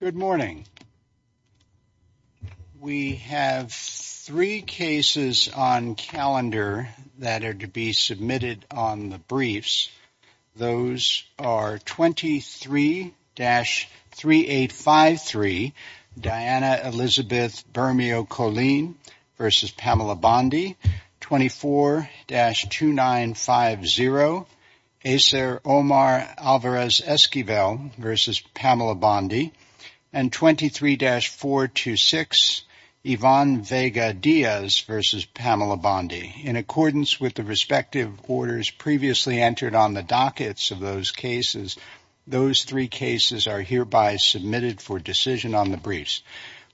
Good morning. We have three cases on calendar that are to be submitted on the briefs. Those are 23-3853 Diana Elizabeth Bermeo Colleen v. Pamela Bondi, 24-2950 Acer Omar Alvarez Esquivel v. Pamela Bondi, and 23-426 Yvonne Vega Diaz v. Pamela Bondi. In accordance with the respective orders previously entered on the dockets of those cases, those three cases are hereby submitted for decision on the briefs.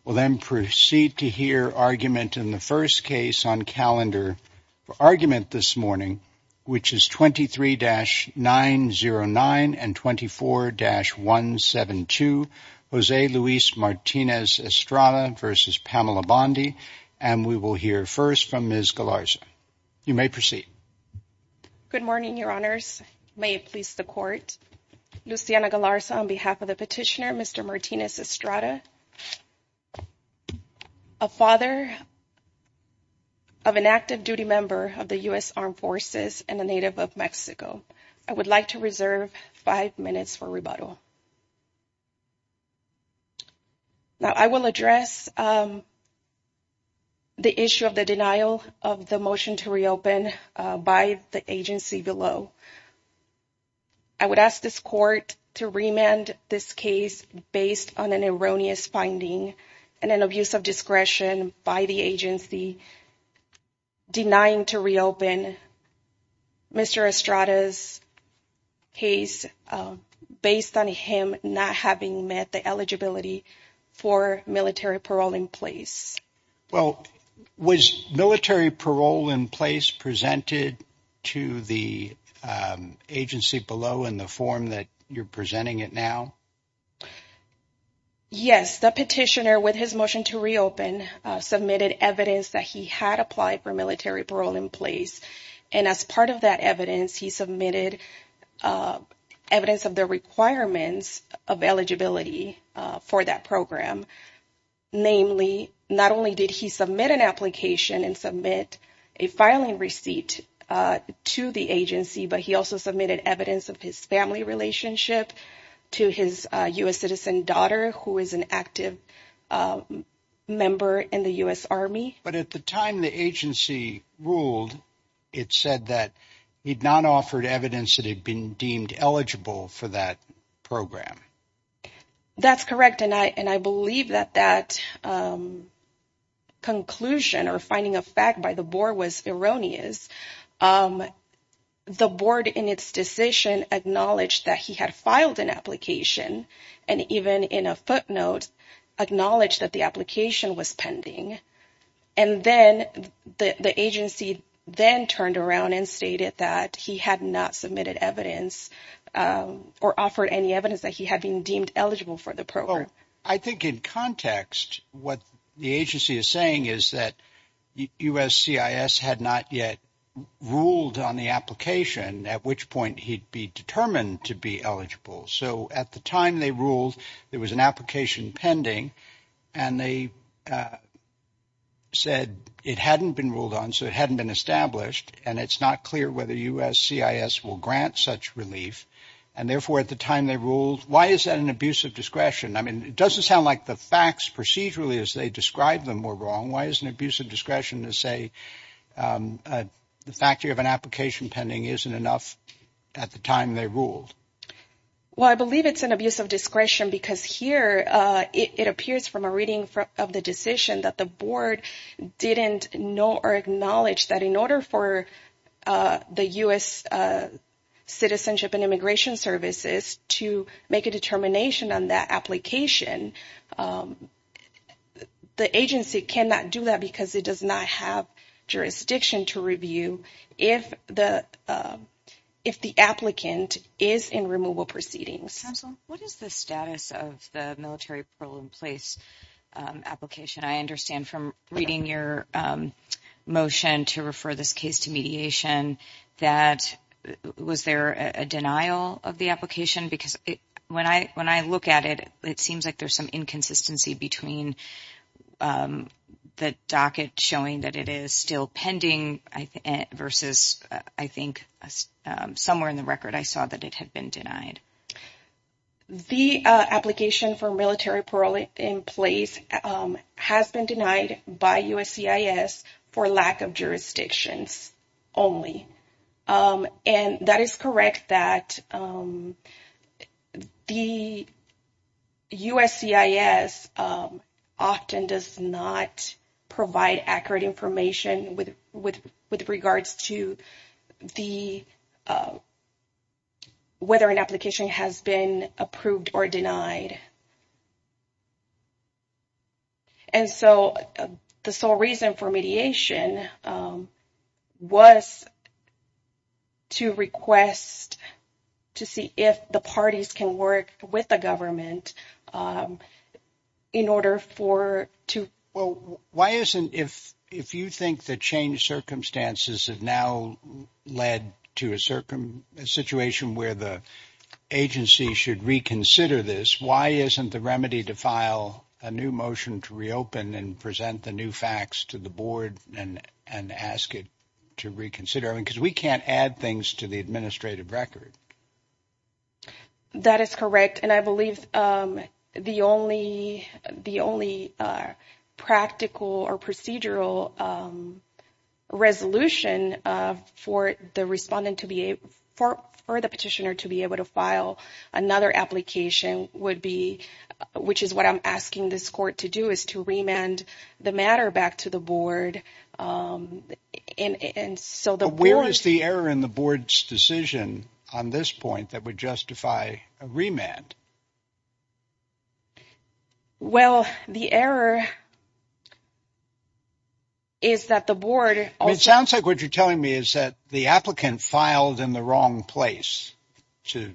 We'll then proceed to hear argument in the first case on calendar for argument this morning, which is 23-909 and 24-172 Jose Luis Martinez Estrada v. Pamela Bondi, and we will hear first from Ms. Galarza. You may proceed. Good morning, your honors. May it please the court. Luciana Galarza on behalf of the petitioner, Mr. Martinez Estrada, a father of an active duty member of the U.S. Armed Forces and a representative of Mexico. I would like to reserve five minutes for rebuttal. Now I will address the issue of the denial of the motion to reopen by the agency below. I would ask this court to remand this case based on an erroneous finding and an abuse of discretion by the agency denying to reopen Mr. Estrada's case based on him not having met the eligibility for military parole in place. Well, was military parole in place presented to the agency below in the form that you're presenting it now? Yes, the petitioner with his motion to reopen submitted evidence that he had applied for military parole in place, and as part of that evidence, he submitted evidence of the requirements of eligibility for that program. Namely, not only did he submit an application and submit a filing receipt to the agency, but he also submitted evidence of his family relationship to his U.S. citizen daughter, who is an active member in the U.S. Army. But at the time the agency ruled, it said that he'd not offered evidence that had been deemed eligible for that program. That's correct, and I believe that that conclusion or finding of fact by the board was erroneous. The board in its decision acknowledged that he had filed an application and even in a footnote acknowledged that the application was pending, and then the agency then turned around and stated that he had not submitted evidence or offered any evidence that he had been deemed eligible for the program. I think in context, what the agency is saying is that USCIS had not yet ruled on the application, at which point he'd be determined to be eligible. So at the time they ruled, there was an application pending, and they said it hadn't been ruled on, so it hadn't been established, and it's not clear whether USCIS will grant such relief, and therefore at the time they ruled, why is that an abuse of discretion? I mean, it doesn't sound like the facts procedurally as they described them were wrong. Why is an abuse of discretion to say the fact you have an application pending isn't enough at the time they ruled? Well, I believe it's an abuse of discretion because here it appears from a of the decision that the board didn't know or acknowledge that in order for the U.S. Citizenship and Immigration Services to make a determination on that application, the agency cannot do that because it does not have jurisdiction to review if the applicant is in removal proceedings. Counsel, what is the status of the military parole in place application? I understand from reading your motion to refer this case to mediation that was there a denial of the application? Because when I look at it, it seems like there's some inconsistency between the docket showing that it is still pending versus I think somewhere in the record, I saw that it had been denied. The application for military parole in place has been denied by USCIS for lack of jurisdictions only. And that is correct that the USCIS often does not provide accurate information with regards to the whether an application has been approved or denied. And so the sole reason for mediation was to request to see if the parties can work with the government in order for to. Well, why isn't if you think the changed circumstances have now led to a situation where the agency should reconsider this, why isn't the remedy to file a new motion to reopen and present the new facts to the board and ask it to reconsider? Because we can't add things to the administrative record. That is correct. And I believe the only the only practical or procedural resolution for the respondent to be for for the petitioner to be able to file another application would be which is what I'm asking this court to do is to remand the matter back to the board. And so the where is the error in the board's decision on this point that would justify a remand? Well, the error. Is that the board? It sounds like what you're telling me is that the applicant filed in the wrong place to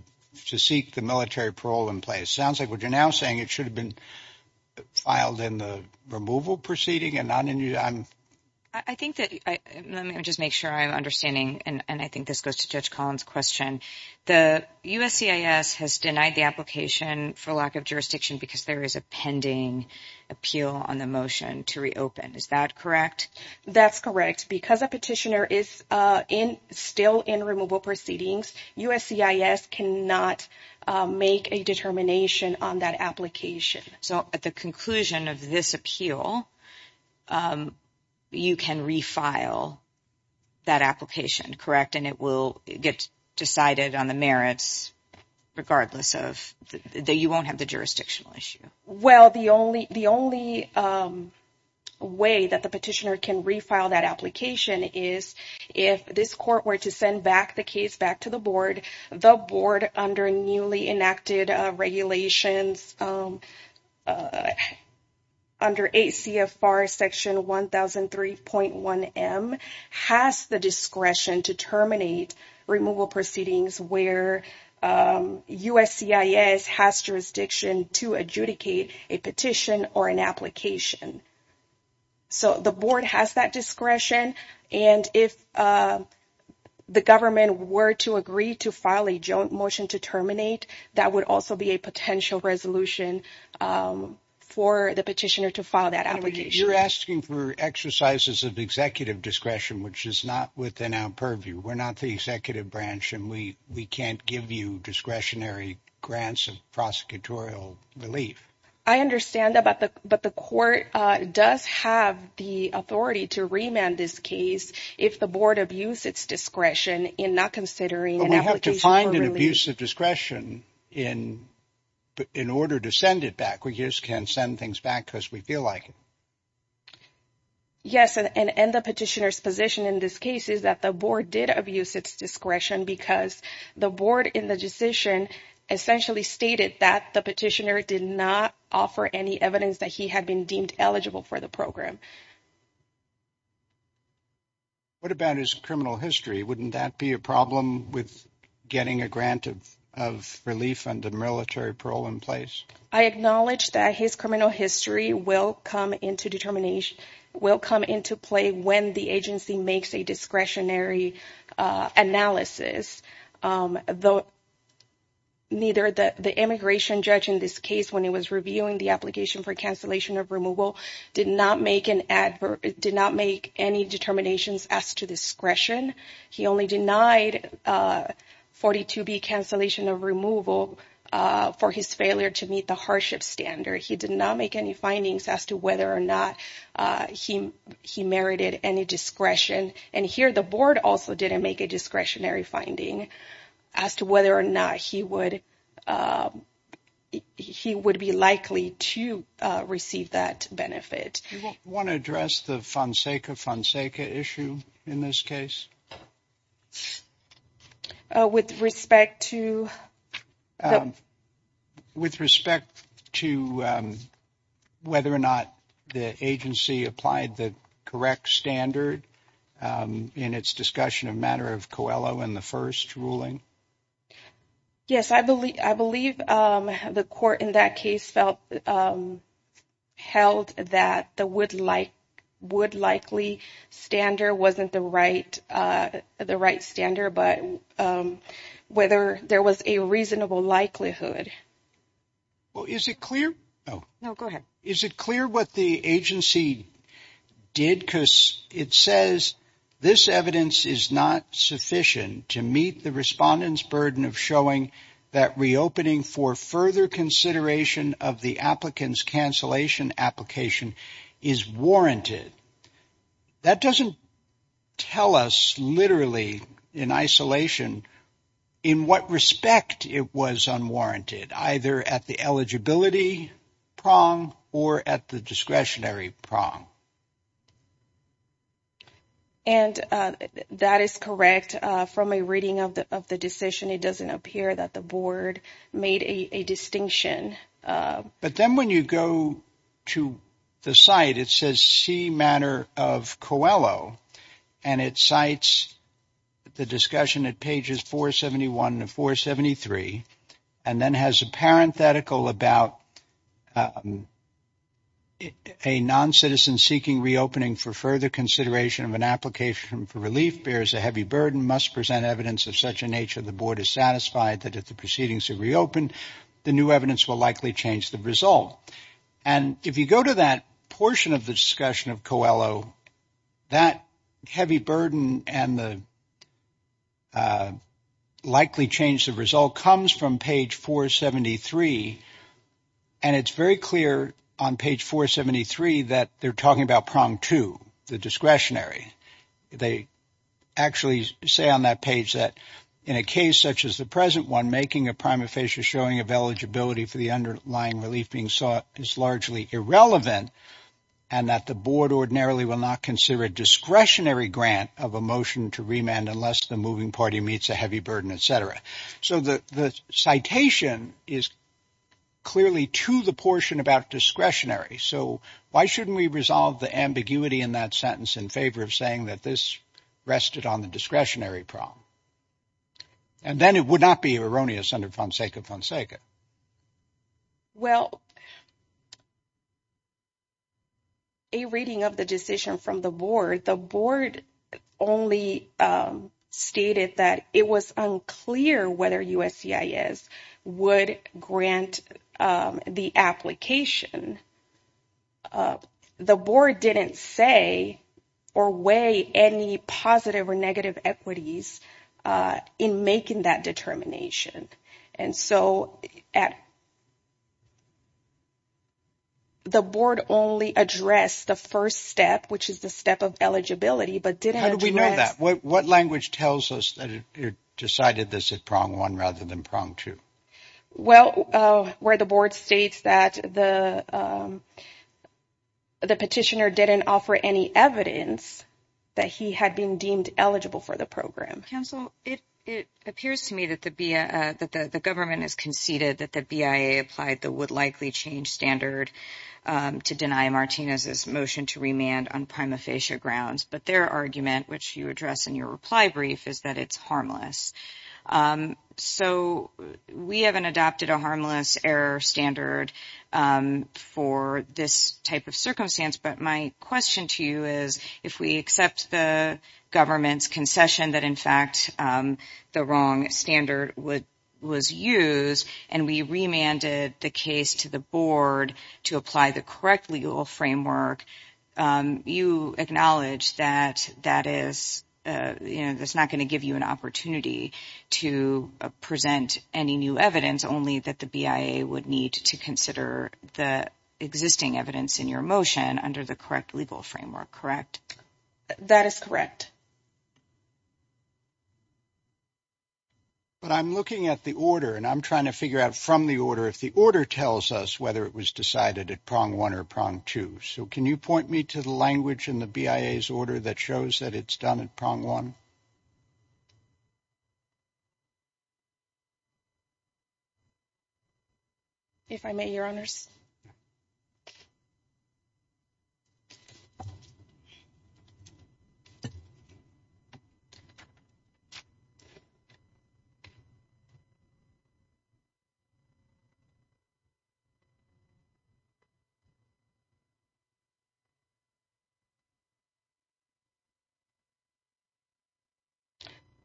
to seek the military parole in place. Sounds like what you're now saying it should have been filed in the removal proceeding. And I think that I just make sure I'm understanding. And I think this goes to Judge Collins question. The USCIS has denied the application for lack of jurisdiction because there is a pending appeal on the motion to reopen. Is that correct? That's correct. Because a petitioner is in still in removal proceedings, USCIS cannot make a determination on that application. So at the conclusion of this appeal, you can refile that application, correct? And it will get decided on the merits regardless of that you won't have the jurisdictional issue. Well, the only the only way that the petitioner can refile that application is if this court were to send back the case back to the board, the board under newly enacted regulations under ACFR Section 1003.1M has the discretion to terminate removal proceedings where USCIS has jurisdiction to adjudicate a petition or an application. So the board has that discretion. And if the government were to agree to file a joint motion to terminate, that would also be potential resolution for the petitioner to file that application. You're asking for exercises of executive discretion, which is not within our purview. We're not the executive branch and we we can't give you discretionary grants of prosecutorial relief. I understand that, but the but the court does have the authority to remand this case if the board abuse its discretion in not considering an application. We have to find an abuse of discretion in in order to send it back. We just can't send things back because we feel like it. Yes, and the petitioner's position in this case is that the board did abuse its discretion because the board in the decision essentially stated that the petitioner did not offer any evidence that he had been deemed eligible for the program. What about his criminal history? Wouldn't that be a problem with getting a grant of of relief and the military parole in place? I acknowledge that his criminal history will come into determination, will come into play when the agency makes a discretionary analysis. Though neither the the immigration judge in this case when he was reviewing the application for did not make any determinations as to discretion. He only denied 42b cancellation of removal for his failure to meet the hardship standard. He did not make any findings as to whether or not he merited any discretion. And here the board also didn't make a discretionary finding as to whether or not he would he would be likely to receive that benefit. Want to address the Fonseca Fonseca issue in this case? With respect to? With respect to whether or not the agency applied the correct standard in its discussion of matter of Coelho in the first ruling? Yes, I believe I believe the court in that case felt held that the would like would likely standard wasn't the right the right standard, but whether there was a reasonable likelihood. Well, is it clear? Oh, no, go ahead. Is it clear what the agency did? Because it says this evidence is not sufficient to meet the respondents burden of showing that reopening for further consideration of the applicants cancellation application is warranted. That doesn't tell us literally in isolation in what respect it was unwarranted, either at the eligibility prong or at the discretionary prong. And that is correct from a reading of the of the decision, it doesn't appear that the board made a distinction. But then when you go to the site, it says C matter of Coelho, and it cites the discussion at pages 471 to 473, and then has a parenthetical about a non-citizen seeking reopening for further consideration of an application for relief bears a heavy burden must present evidence of such a nature, the board is satisfied that if the proceedings are reopened, the new evidence will likely change the result. And if you go to that portion of the discussion of Coelho, that heavy burden and the likely change the result comes from page 473. And it's very clear on page 473, that they're talking about prong to the discretionary, they actually say on that page that, in a case such as the present one, making a prima facie showing of eligibility for the underlying relief being sought is largely irrelevant. And that the board ordinarily will not consider a discretionary grant of a motion to remand unless the moving party meets a heavy burden, etc. So the citation is clearly to the portion about discretionary. So why shouldn't we resolve the ambiguity in that sentence in favor of saying that this rested on the discretionary prong? And then it would not be erroneous under Fonseca? Well, a reading of the decision from the board, the board only stated that it was unclear whether USCIS would grant the application. The board didn't say or weigh any positive or negative equities in making that determination. And so at the board only addressed the first step, which is the step of eligibility. But did we know that what language tells us that it decided this at prong one rather than prong two? Well, where the board states that the petitioner didn't offer any evidence that he had been deemed eligible for the program. Counsel, it appears to me that the government has conceded that the BIA applied the would likely change standard to deny Martinez's motion to remand on prima facie grounds. But their argument, which you address in your reply brief, is that it's harmless. So we haven't adopted a harmless error standard for this type of circumstance. But my question to you is, if we accept the government's concession that, in fact, the wrong standard was used and we remanded the case to the board to apply the correct legal framework, you acknowledge that that is, you know, that's not going to give you an opportunity to present any new evidence, only that the BIA would need to consider the existing evidence in your motion under the correct legal framework, correct? That is correct. But I'm looking at the order and I'm trying to figure out from the order if the order tells us whether it was decided at prong one or prong two. So can you point me to the language in the BIA's order that shows that it's done at prong one? If I may, Your Honors.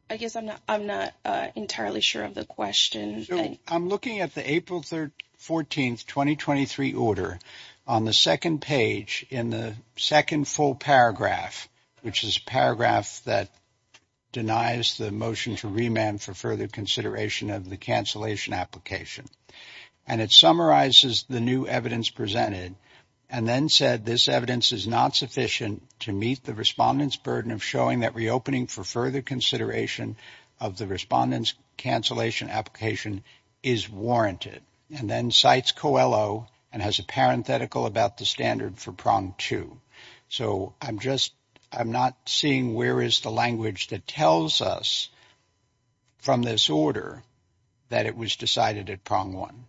I guess I'm not entirely sure of the question. I'm looking at the April 14, 2023 order on the second page in the second full paragraph, which is a paragraph that denies the motion to remand for further consideration of the cancellation application. And it summarizes the new evidence presented and then said this evidence is not sufficient to meet the respondent's burden of showing that reopening for further consideration of the respondent's cancellation application is warranted. And then cites Coelho and has a parenthetical about the standard for prong two. So I'm just, I'm not seeing where is the language that tells us from this order that it was decided at prong one?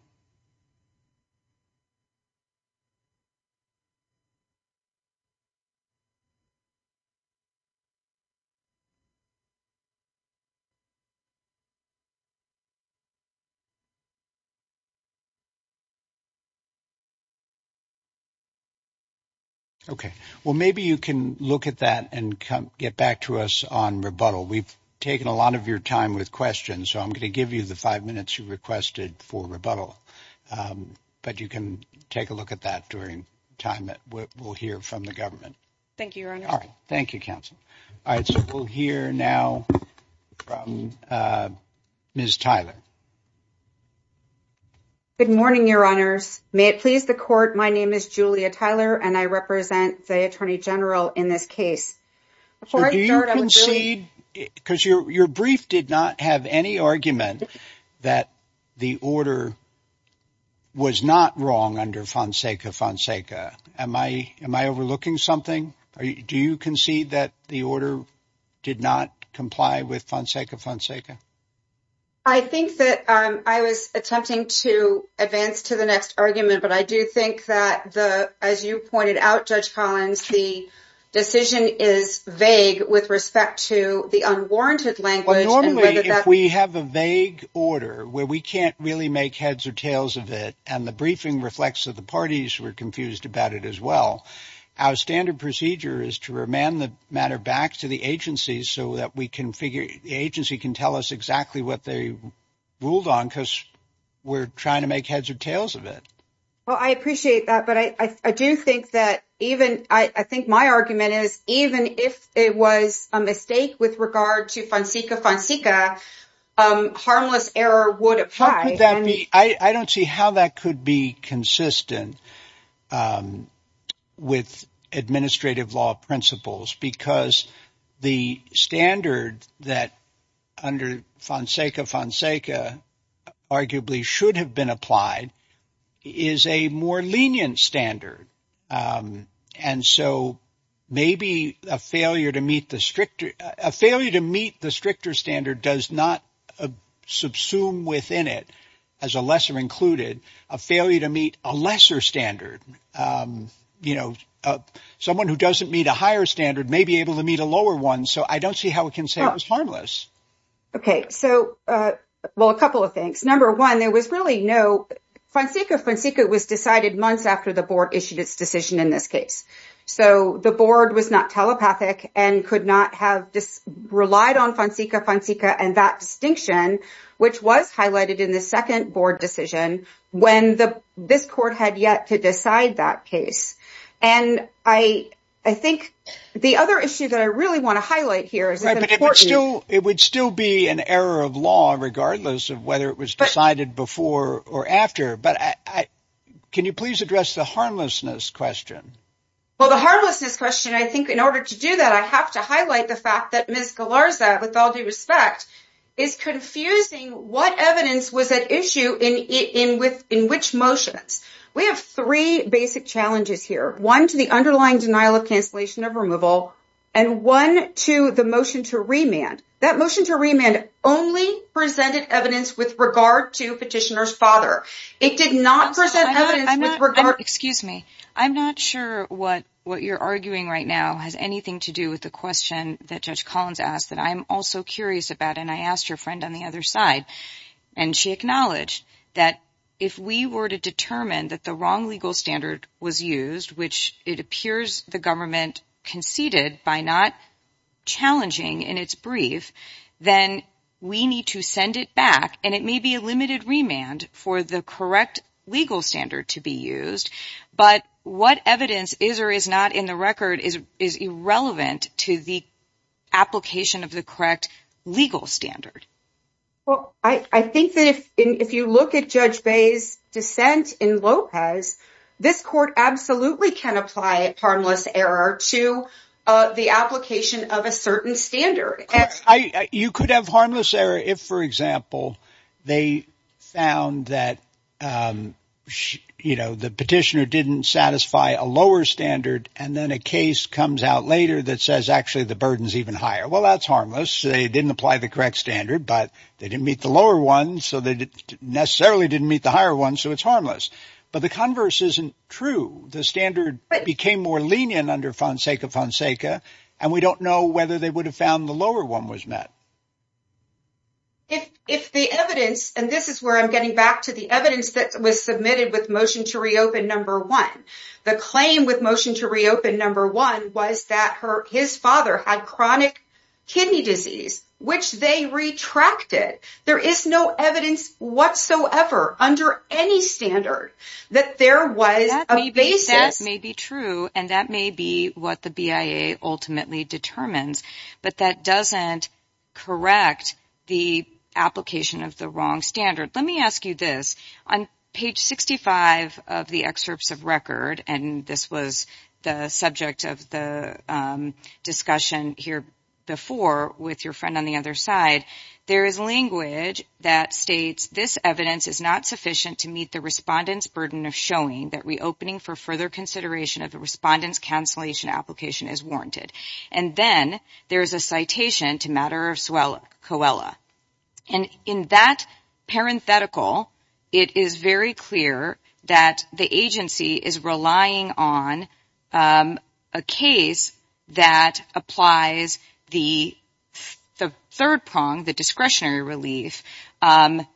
Okay. Well, maybe you can look at that and get back to us on rebuttal. We've taken a lot of your time with questions, so I'm going to give you the five minutes you requested for rebuttal. But you can take a look at that during time that we'll hear from the government. Thank you, Your Honor. All right. Thank you, counsel. All right. So we'll hear now from Ms. Tyler. Good morning, Your Honors. May it please the court, my name is Julia Tyler and I represent the Attorney General in this case. Do you concede, because your brief did not have any argument that the order was not wrong under Fonseca Fonseca. Am I overlooking something? Do you concede that the order did not comply with Fonseca Fonseca? I think that I was attempting to advance to the next argument, but I do think that the, as you pointed out, Judge Collins, the decision is vague with respect to the unwarranted language. Well, normally, if we have a vague order where we can't really make heads or tails of it, and the briefing reflects that the parties were confused about it as well, our standard procedure is to remand the matter back to the agency so that we can figure, the agency can tell us exactly what they ruled on because we're trying to make heads or tails of it. Well, I appreciate that, but I do think that even, I think my argument is, even if it was a mistake with regard to Fonseca Fonseca, harmless error would apply. How could that be? I don't see how that could be consistent with administrative law principles, because the standard that under Fonseca Fonseca arguably should have been applied is a more lenient standard. And so maybe a failure to meet the stricter, a failure to meet the stricter standard does not subsume within it, as a lesser included, a failure to meet a lesser standard. Someone who doesn't meet a higher standard may be able to meet a lower one. So I don't see how it can say it was harmless. Okay. So, well, a couple of things. Number one, there was really no, Fonseca Fonseca was decided months after the board issued its decision in this case. So the board was not telepathic and could not have relied on Fonseca and that distinction, which was highlighted in the second board decision when this court had yet to decide that case. And I think the other issue that I really want to highlight here is it would still be an error of law, regardless of whether it was decided before or after, but can you please address the harmlessness question? Well, the harmlessness question, I think in order to do that, I have to highlight the fact that Ms. Galarza, with all due respect, is confusing what evidence was at issue in which motions. We have three basic challenges here. One to the underlying denial of cancellation of removal and one to the motion to remand. That motion to remand only presented evidence with regard to petitioner's father. It did not present evidence with regard... Excuse me. I'm not sure what you're arguing right now has anything to do with the question that Judge Collins asked that I'm also curious about. And I asked your friend on the other side and she acknowledged that if we were to determine that the wrong legal standard was used, which it appears the government conceded by not challenging in its brief, then we need to send it back. And it may be a limited remand for the correct legal standard to be used, but what evidence is or is not in the record is irrelevant to the application of the correct legal standard. Well, I think that if you look at Judge Bae's dissent in Lopez, this court absolutely can apply a harmless error to the application of a certain standard. You could have harmless error if, for example, they found that, you know, the petitioner didn't satisfy a lower standard. And then a case comes out later that says actually the burden is even higher. Well, that's harmless. They didn't apply the correct standard, but they didn't meet the lower one. So they necessarily didn't meet the higher one. So it's harmless. But the converse isn't true. The standard became more lenient under Fonseca Fonseca. And we don't know whether they would have found the lower one was met. If the evidence, and this is where I'm getting back to the evidence that was submitted with motion to reopen number one, the claim with motion to reopen number one was that his father had chronic kidney disease, which they retracted. There is no evidence whatsoever under any standard that there was a basis. That may be true and that may be what the BIA ultimately determines, but that doesn't correct the application of the wrong standard. Let me ask you this. On page 65 of the excerpts of record, and this was the subject of the discussion here before with your friend on the other side, there is language that states, this evidence is not sufficient to meet the respondent's burden of showing that reopening for further consideration of the respondent's cancellation application is warranted. And then there's a citation to matter of COELA. And in that parenthetical, it is very clear that the agency is relying on a case that applies the third prong, the discretionary relief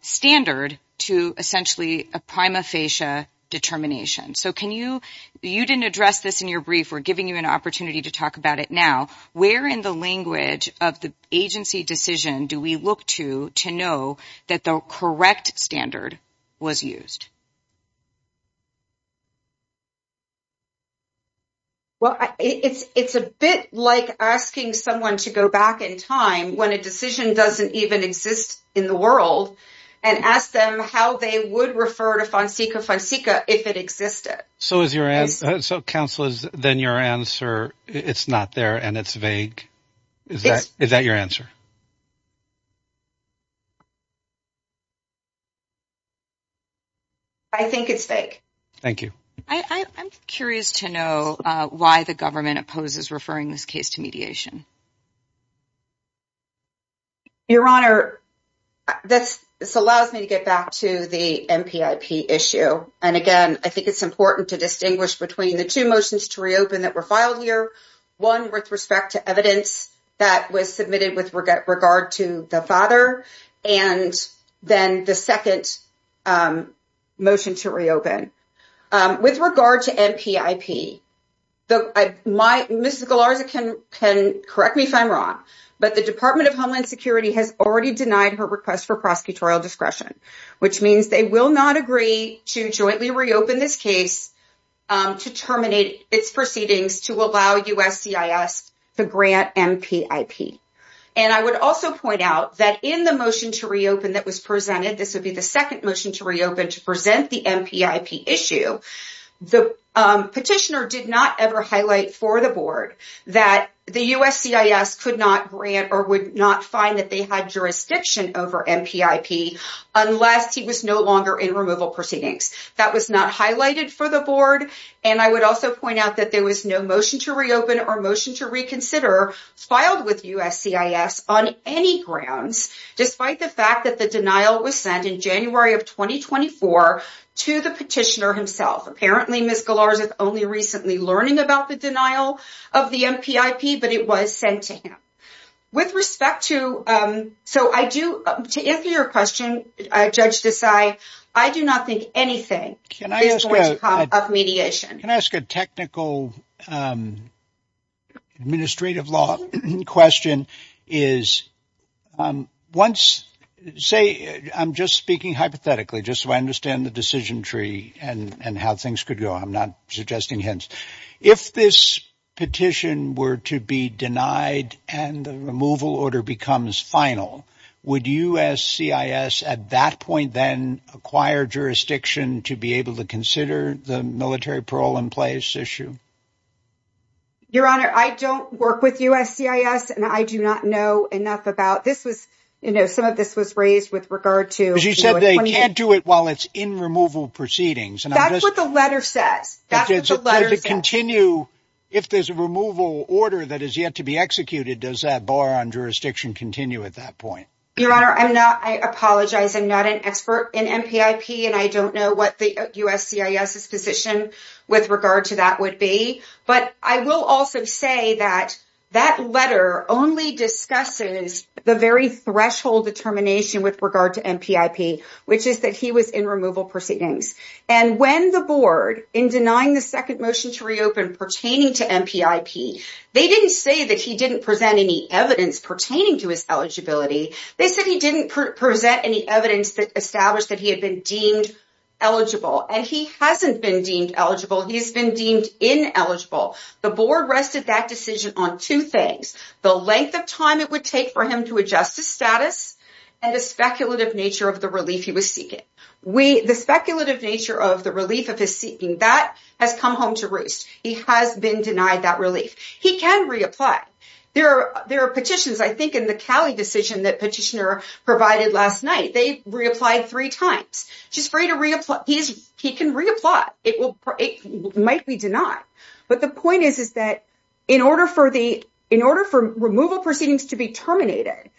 standard, to essentially a prima facie determination. You didn't address this in your brief. We're giving you an opportunity to talk about it now. Where in the language of the agency decision do we look to to know that the correct standard was used? Well, it's a bit like asking someone to go back in time when a decision doesn't even exist in the world and ask them how they would refer to Fonseca Fonseca if it existed. So is your answer, so counsel is then your answer, it's not there and it's vague. Is that your answer? I think it's fake. Thank you. I'm curious to know why the government opposes referring this case to mediation. Your Honor, this allows me to get back to the MPIP issue. And again, I think it's important to distinguish between the two motions to reopen that were filed here. One with respect to evidence that was submitted with regard to the father and then the second motion to reopen. With regard to correct me if I'm wrong, but the Department of Homeland Security has already denied her request for prosecutorial discretion, which means they will not agree to jointly reopen this case to terminate its proceedings to allow USCIS to grant MPIP. And I would also point out that in the motion to reopen that was presented, this would be the second motion to reopen to present the MPIP issue. The petitioner did not ever highlight for the board that the USCIS could not grant or would not find that they had jurisdiction over MPIP unless he was no longer in removal proceedings. That was not highlighted for the board. And I would also point out that there was no motion to reopen or motion to reconsider filed with USCIS on any grounds, despite the fact that denial was sent in January of 2024 to the petitioner himself. Apparently, Ms. Gillard is only recently learning about the denial of the MPIP, but it was sent to him. With respect to to answer your question, Judge Desai, I do not think anything is going to come of mediation. Can I ask a technical administrative law question? Say I'm just speaking hypothetically, just so I understand the decision tree and how things could go. I'm not suggesting hints. If this petition were to be denied and the removal order becomes final, would USCIS at that point then acquire jurisdiction to be able to consider the military parole in place issue? Your Honor, I don't work with USCIS, and I do not know enough about this was, you know, some of this was raised with regard to. She said they can't do it while it's in removal proceedings. And that's what the letter says. That is a letter to continue. If there's a removal order that is yet to be executed, does that bar on jurisdiction continue at that point? Your Honor, I'm not, I apologize. I'm not an expert in MPIP, and I don't know what the USCIS's position with regard to that would be. But I will also say that that letter only discusses the very threshold determination with regard to MPIP, which is that he was in removal proceedings. And when the board, in denying the second motion to reopen pertaining to MPIP, they didn't say that he didn't present any evidence pertaining to his eligibility. They said he didn't present any evidence that established that he had been deemed eligible, and he hasn't been deemed eligible. He's been deemed ineligible. The board rested that decision on two things. The length of time it would take for him to adjust his status, and the speculative nature of the relief he was seeking. We, the speculative nature of the relief of his seeking, that has come home to roost. He has been denied that relief. He can reapply. There are petitions, I think, in the Cali decision that Petitioner provided last night. They reapplied three times. He's free to reapply. He can reapply. It might be denied. But the point is, is that in order for the, in order for removal proceedings to be terminated,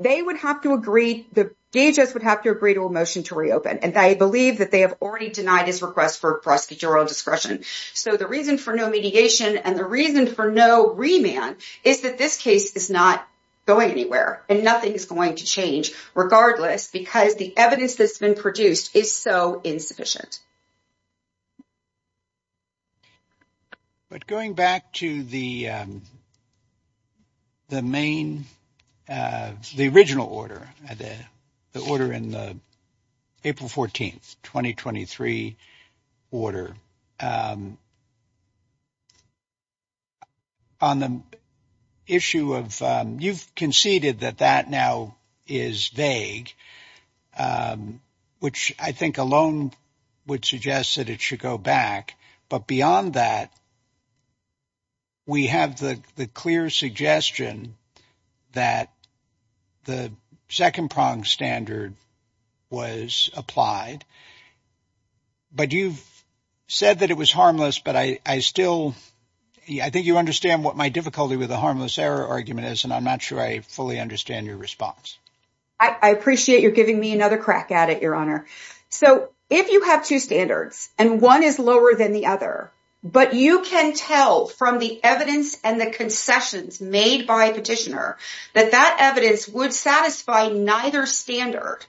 they would have to agree, the DHS would have to agree to a motion to reopen. And I believe that they have already denied his request for prosecutorial discretion. So the reason for no mediation, and the reason for no remand, is that this case is not going anywhere, and nothing is going to change, regardless, because the evidence that's been produced is so insufficient. But going back to the main, the original order, the order in the April 14th, 2023 order, on the issue of, you've conceded that that now is vague, which I think alone would suggest that it should go back. But beyond that, we have the clear suggestion that the second prong standard was applied. But you've said that it was harmless, but I still, I think you understand what my difficulty with the harmless error argument is, and I'm not sure I fully understand your response. I appreciate you giving me another crack at it, Your Honor. So if you have two standards, and one is lower than the other, but you can tell from the evidence and the concessions made by Petitioner, that that evidence would satisfy neither standard.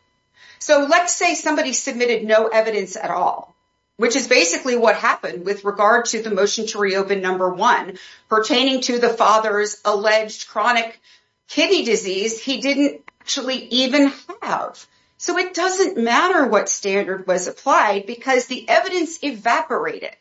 So let's say somebody submitted no evidence at all, which is basically what happened with regard to the motion to reopen number one, pertaining to the father's alleged chronic kidney disease he didn't actually even have. So it doesn't matter what standard was applied, because the evidence evaporated.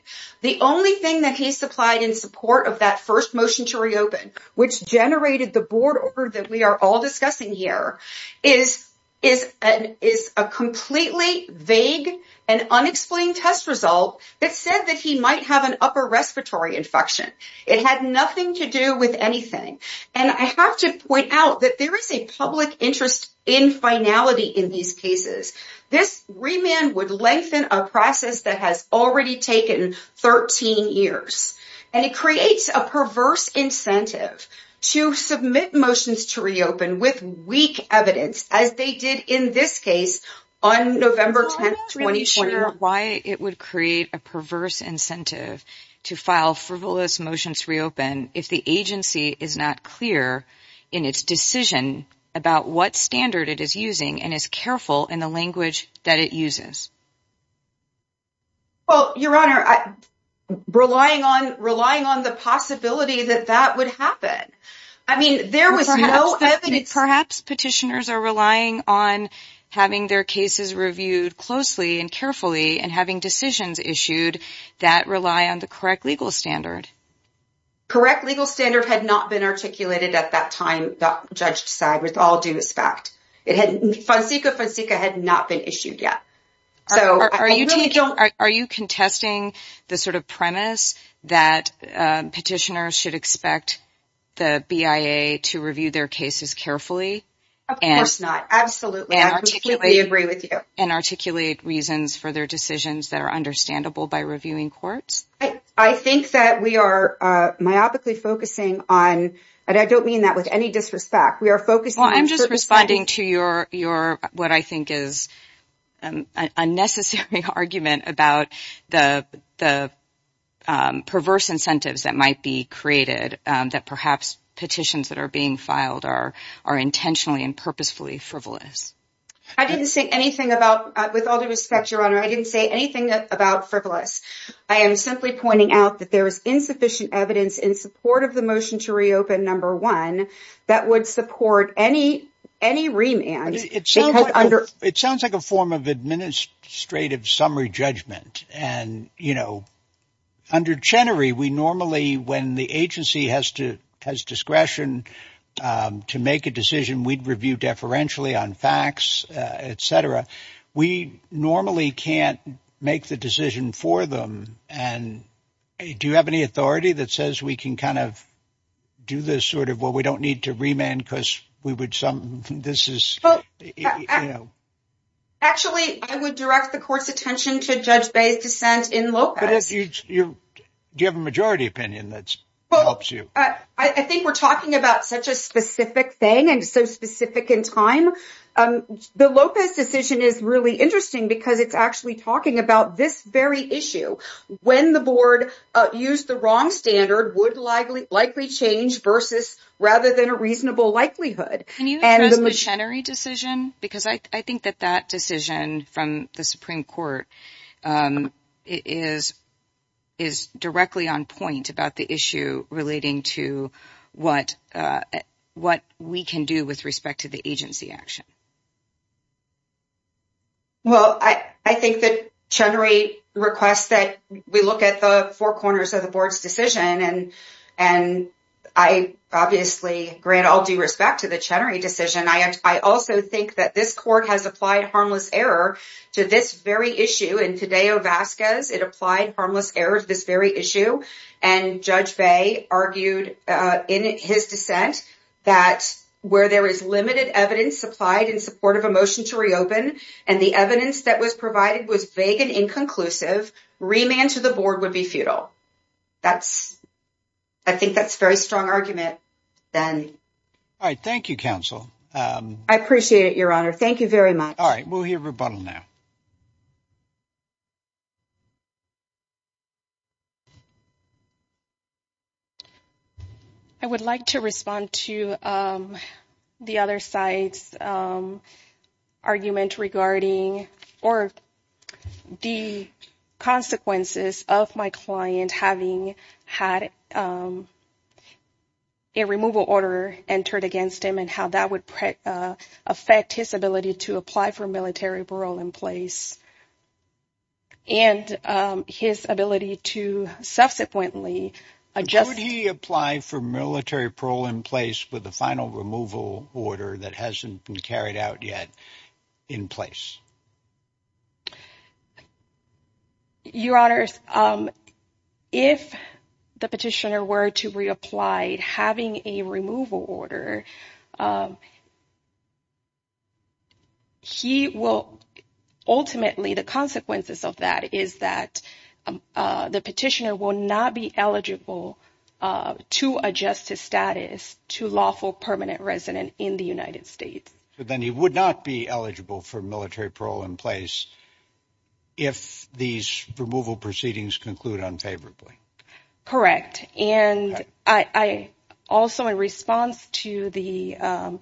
The only thing that he supplied in support of that first motion to reopen, which generated the board order that we are all discussing here, is a completely vague and unexplained test result that said that he might have an upper respiratory infection. It had nothing to do with anything. And I have to point out that there is a public interest in finality in these cases. This remand would lengthen a process that has already taken 13 years. And it creates a perverse incentive to submit motions to reopen with weak evidence, as they did in this case on November 10th, 2020. Are you sure why it would create a perverse incentive to file frivolous motions to reopen if the agency is not clear in its decision about what standard it is using and is careful in the language that it uses? Well, Your Honor, relying on the possibility that that would happen. I mean, there was no evidence. Perhaps petitioners are relying on having their cases reviewed closely and carefully and having decisions issued that rely on the correct legal standard. Correct legal standard had not been articulated at that time, Judge Saag, with all due respect. Fonseca Fonseca had not been issued yet. Are you contesting the sort of premise that petitioners should expect the BIA to review their cases carefully? Of course not. Absolutely. I completely agree with you. And articulate reasons for their decisions that are understandable by reviewing courts? I think that we are myopically focusing on, and I don't mean that with any disrespect, I'm just responding to what I think is an unnecessary argument about the perverse incentives that might be created, that perhaps petitions that are being filed are intentionally and purposefully frivolous. I didn't say anything about, with all due respect, Your Honor, I didn't say anything about frivolous. I am simply pointing out that there is insufficient evidence in support of the motion to reopen, number one, that would support any remand. It sounds like a form of administrative summary judgment. And under Chenery, we normally, when the agency has discretion to make a decision, we'd review deferentially on facts, etc. We normally can't make the decision for them. And do you have any authority that says we can kind of do this sort of, well, we don't need to remand because we would some, this is... Actually, I would direct the court's attention to Judge Baye's dissent in Lopez. Do you have a majority opinion that helps you? I think we're talking about such a specific thing and so specific in time. The Lopez decision is really interesting because it's actually talking about this very issue. When the board used the wrong standard would likely change versus rather than a reasonable likelihood. Can you address the Chenery decision? Because I think that that decision from the Supreme Court is directly on point about the issue relating to what we can do with respect to the agency action. Well, I think that Chenery requests that we look at the four corners of the board's decision. And I obviously grant all due respect to the Chenery decision. I also think that this court has applied harmless error to this very issue in Fideo Vasquez. It applied evidence supplied in support of a motion to reopen. And the evidence that was provided was vague and inconclusive. Remand to the board would be futile. I think that's a very strong argument then. All right. Thank you, counsel. I appreciate it, your honor. Thank you very much. All right. We'll hear rebuttal now. I would like to respond to the other side's argument regarding or the consequences of my client having had a removal order entered against him and how that would affect his ability to apply for military parole in place and his ability to subsequently adjust. Would he apply for military parole in place with the final removal order that hasn't been carried out yet in place? Your honors, if the petitioner were to reapply having a removal order, he will ultimately the consequences of that is that the petitioner will not be eligible to adjust his status to lawful permanent resident in the United States. So then he would not be eligible for military parole in place if these removal proceedings conclude unfavorably. Correct. And I also, in response to the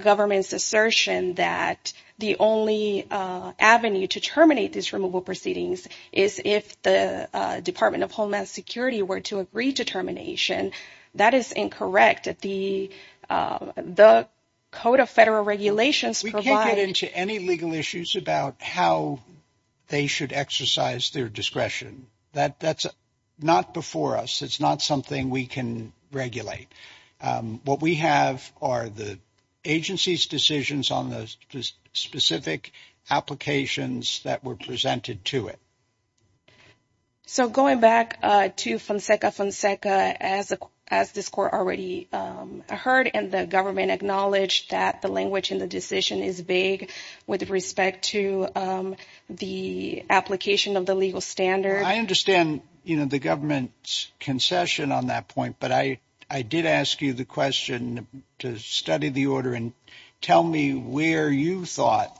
government's assertion that the only avenue to terminate these removal proceedings is if the Department of Homeland Security were to agree to termination, that is incorrect. The Code of Federal Regulations. We can't get into any legal issues about how they should exercise their discretion. That's not before us. It's not something we can regulate. What we have are the agency's decisions on the specific applications that were presented to it. So going back to Fonseca Fonseca, as this Court already heard and the government acknowledged that the language in the decision is vague with respect to the application of the legal standard. I understand the government's concession on that point, but I did ask you the question to study the order and tell me where you thought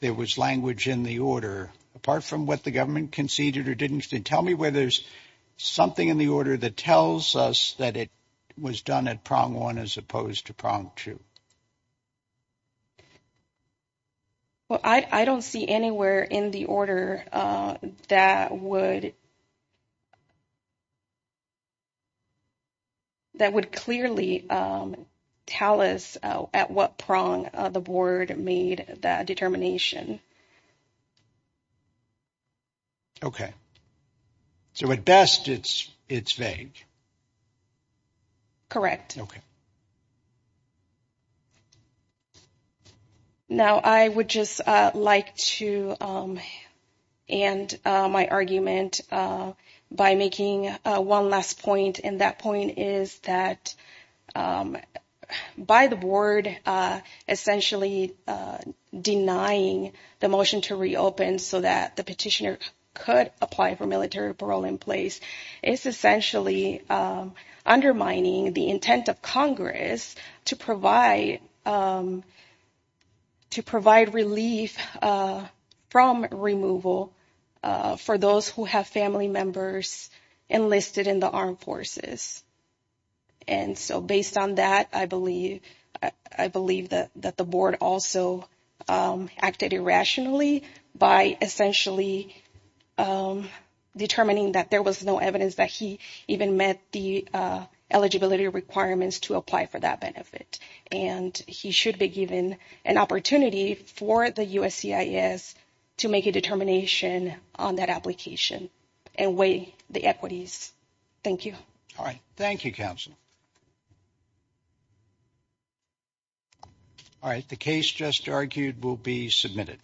there was language in the order, apart from what the government conceded or didn't. Tell me where there's something in the order that tells us that it was done at prong one as opposed to prong two. Well, I don't see anywhere in the order that would clearly tell us at what prong the Board made that determination. Okay. So at best, it's vague. Correct. Now, I would just like to end my argument by making one last point, and that point is that by the Board essentially denying the motion to reopen so that the petitioner could apply for military parole in place, it's essentially undermining the intent of Congress to provide relief from removal for those who have family members enlisted in the armed forces. And so based on that, I believe that the Board also acted irrationally by essentially determining that there was no evidence that he even met the eligibility requirements to apply for that benefit, and he should be given an opportunity for the USCIS to make a determination on that application and weigh the equities. Thank you. All right. Thank you, counsel. All right. The case just argued will be submitted.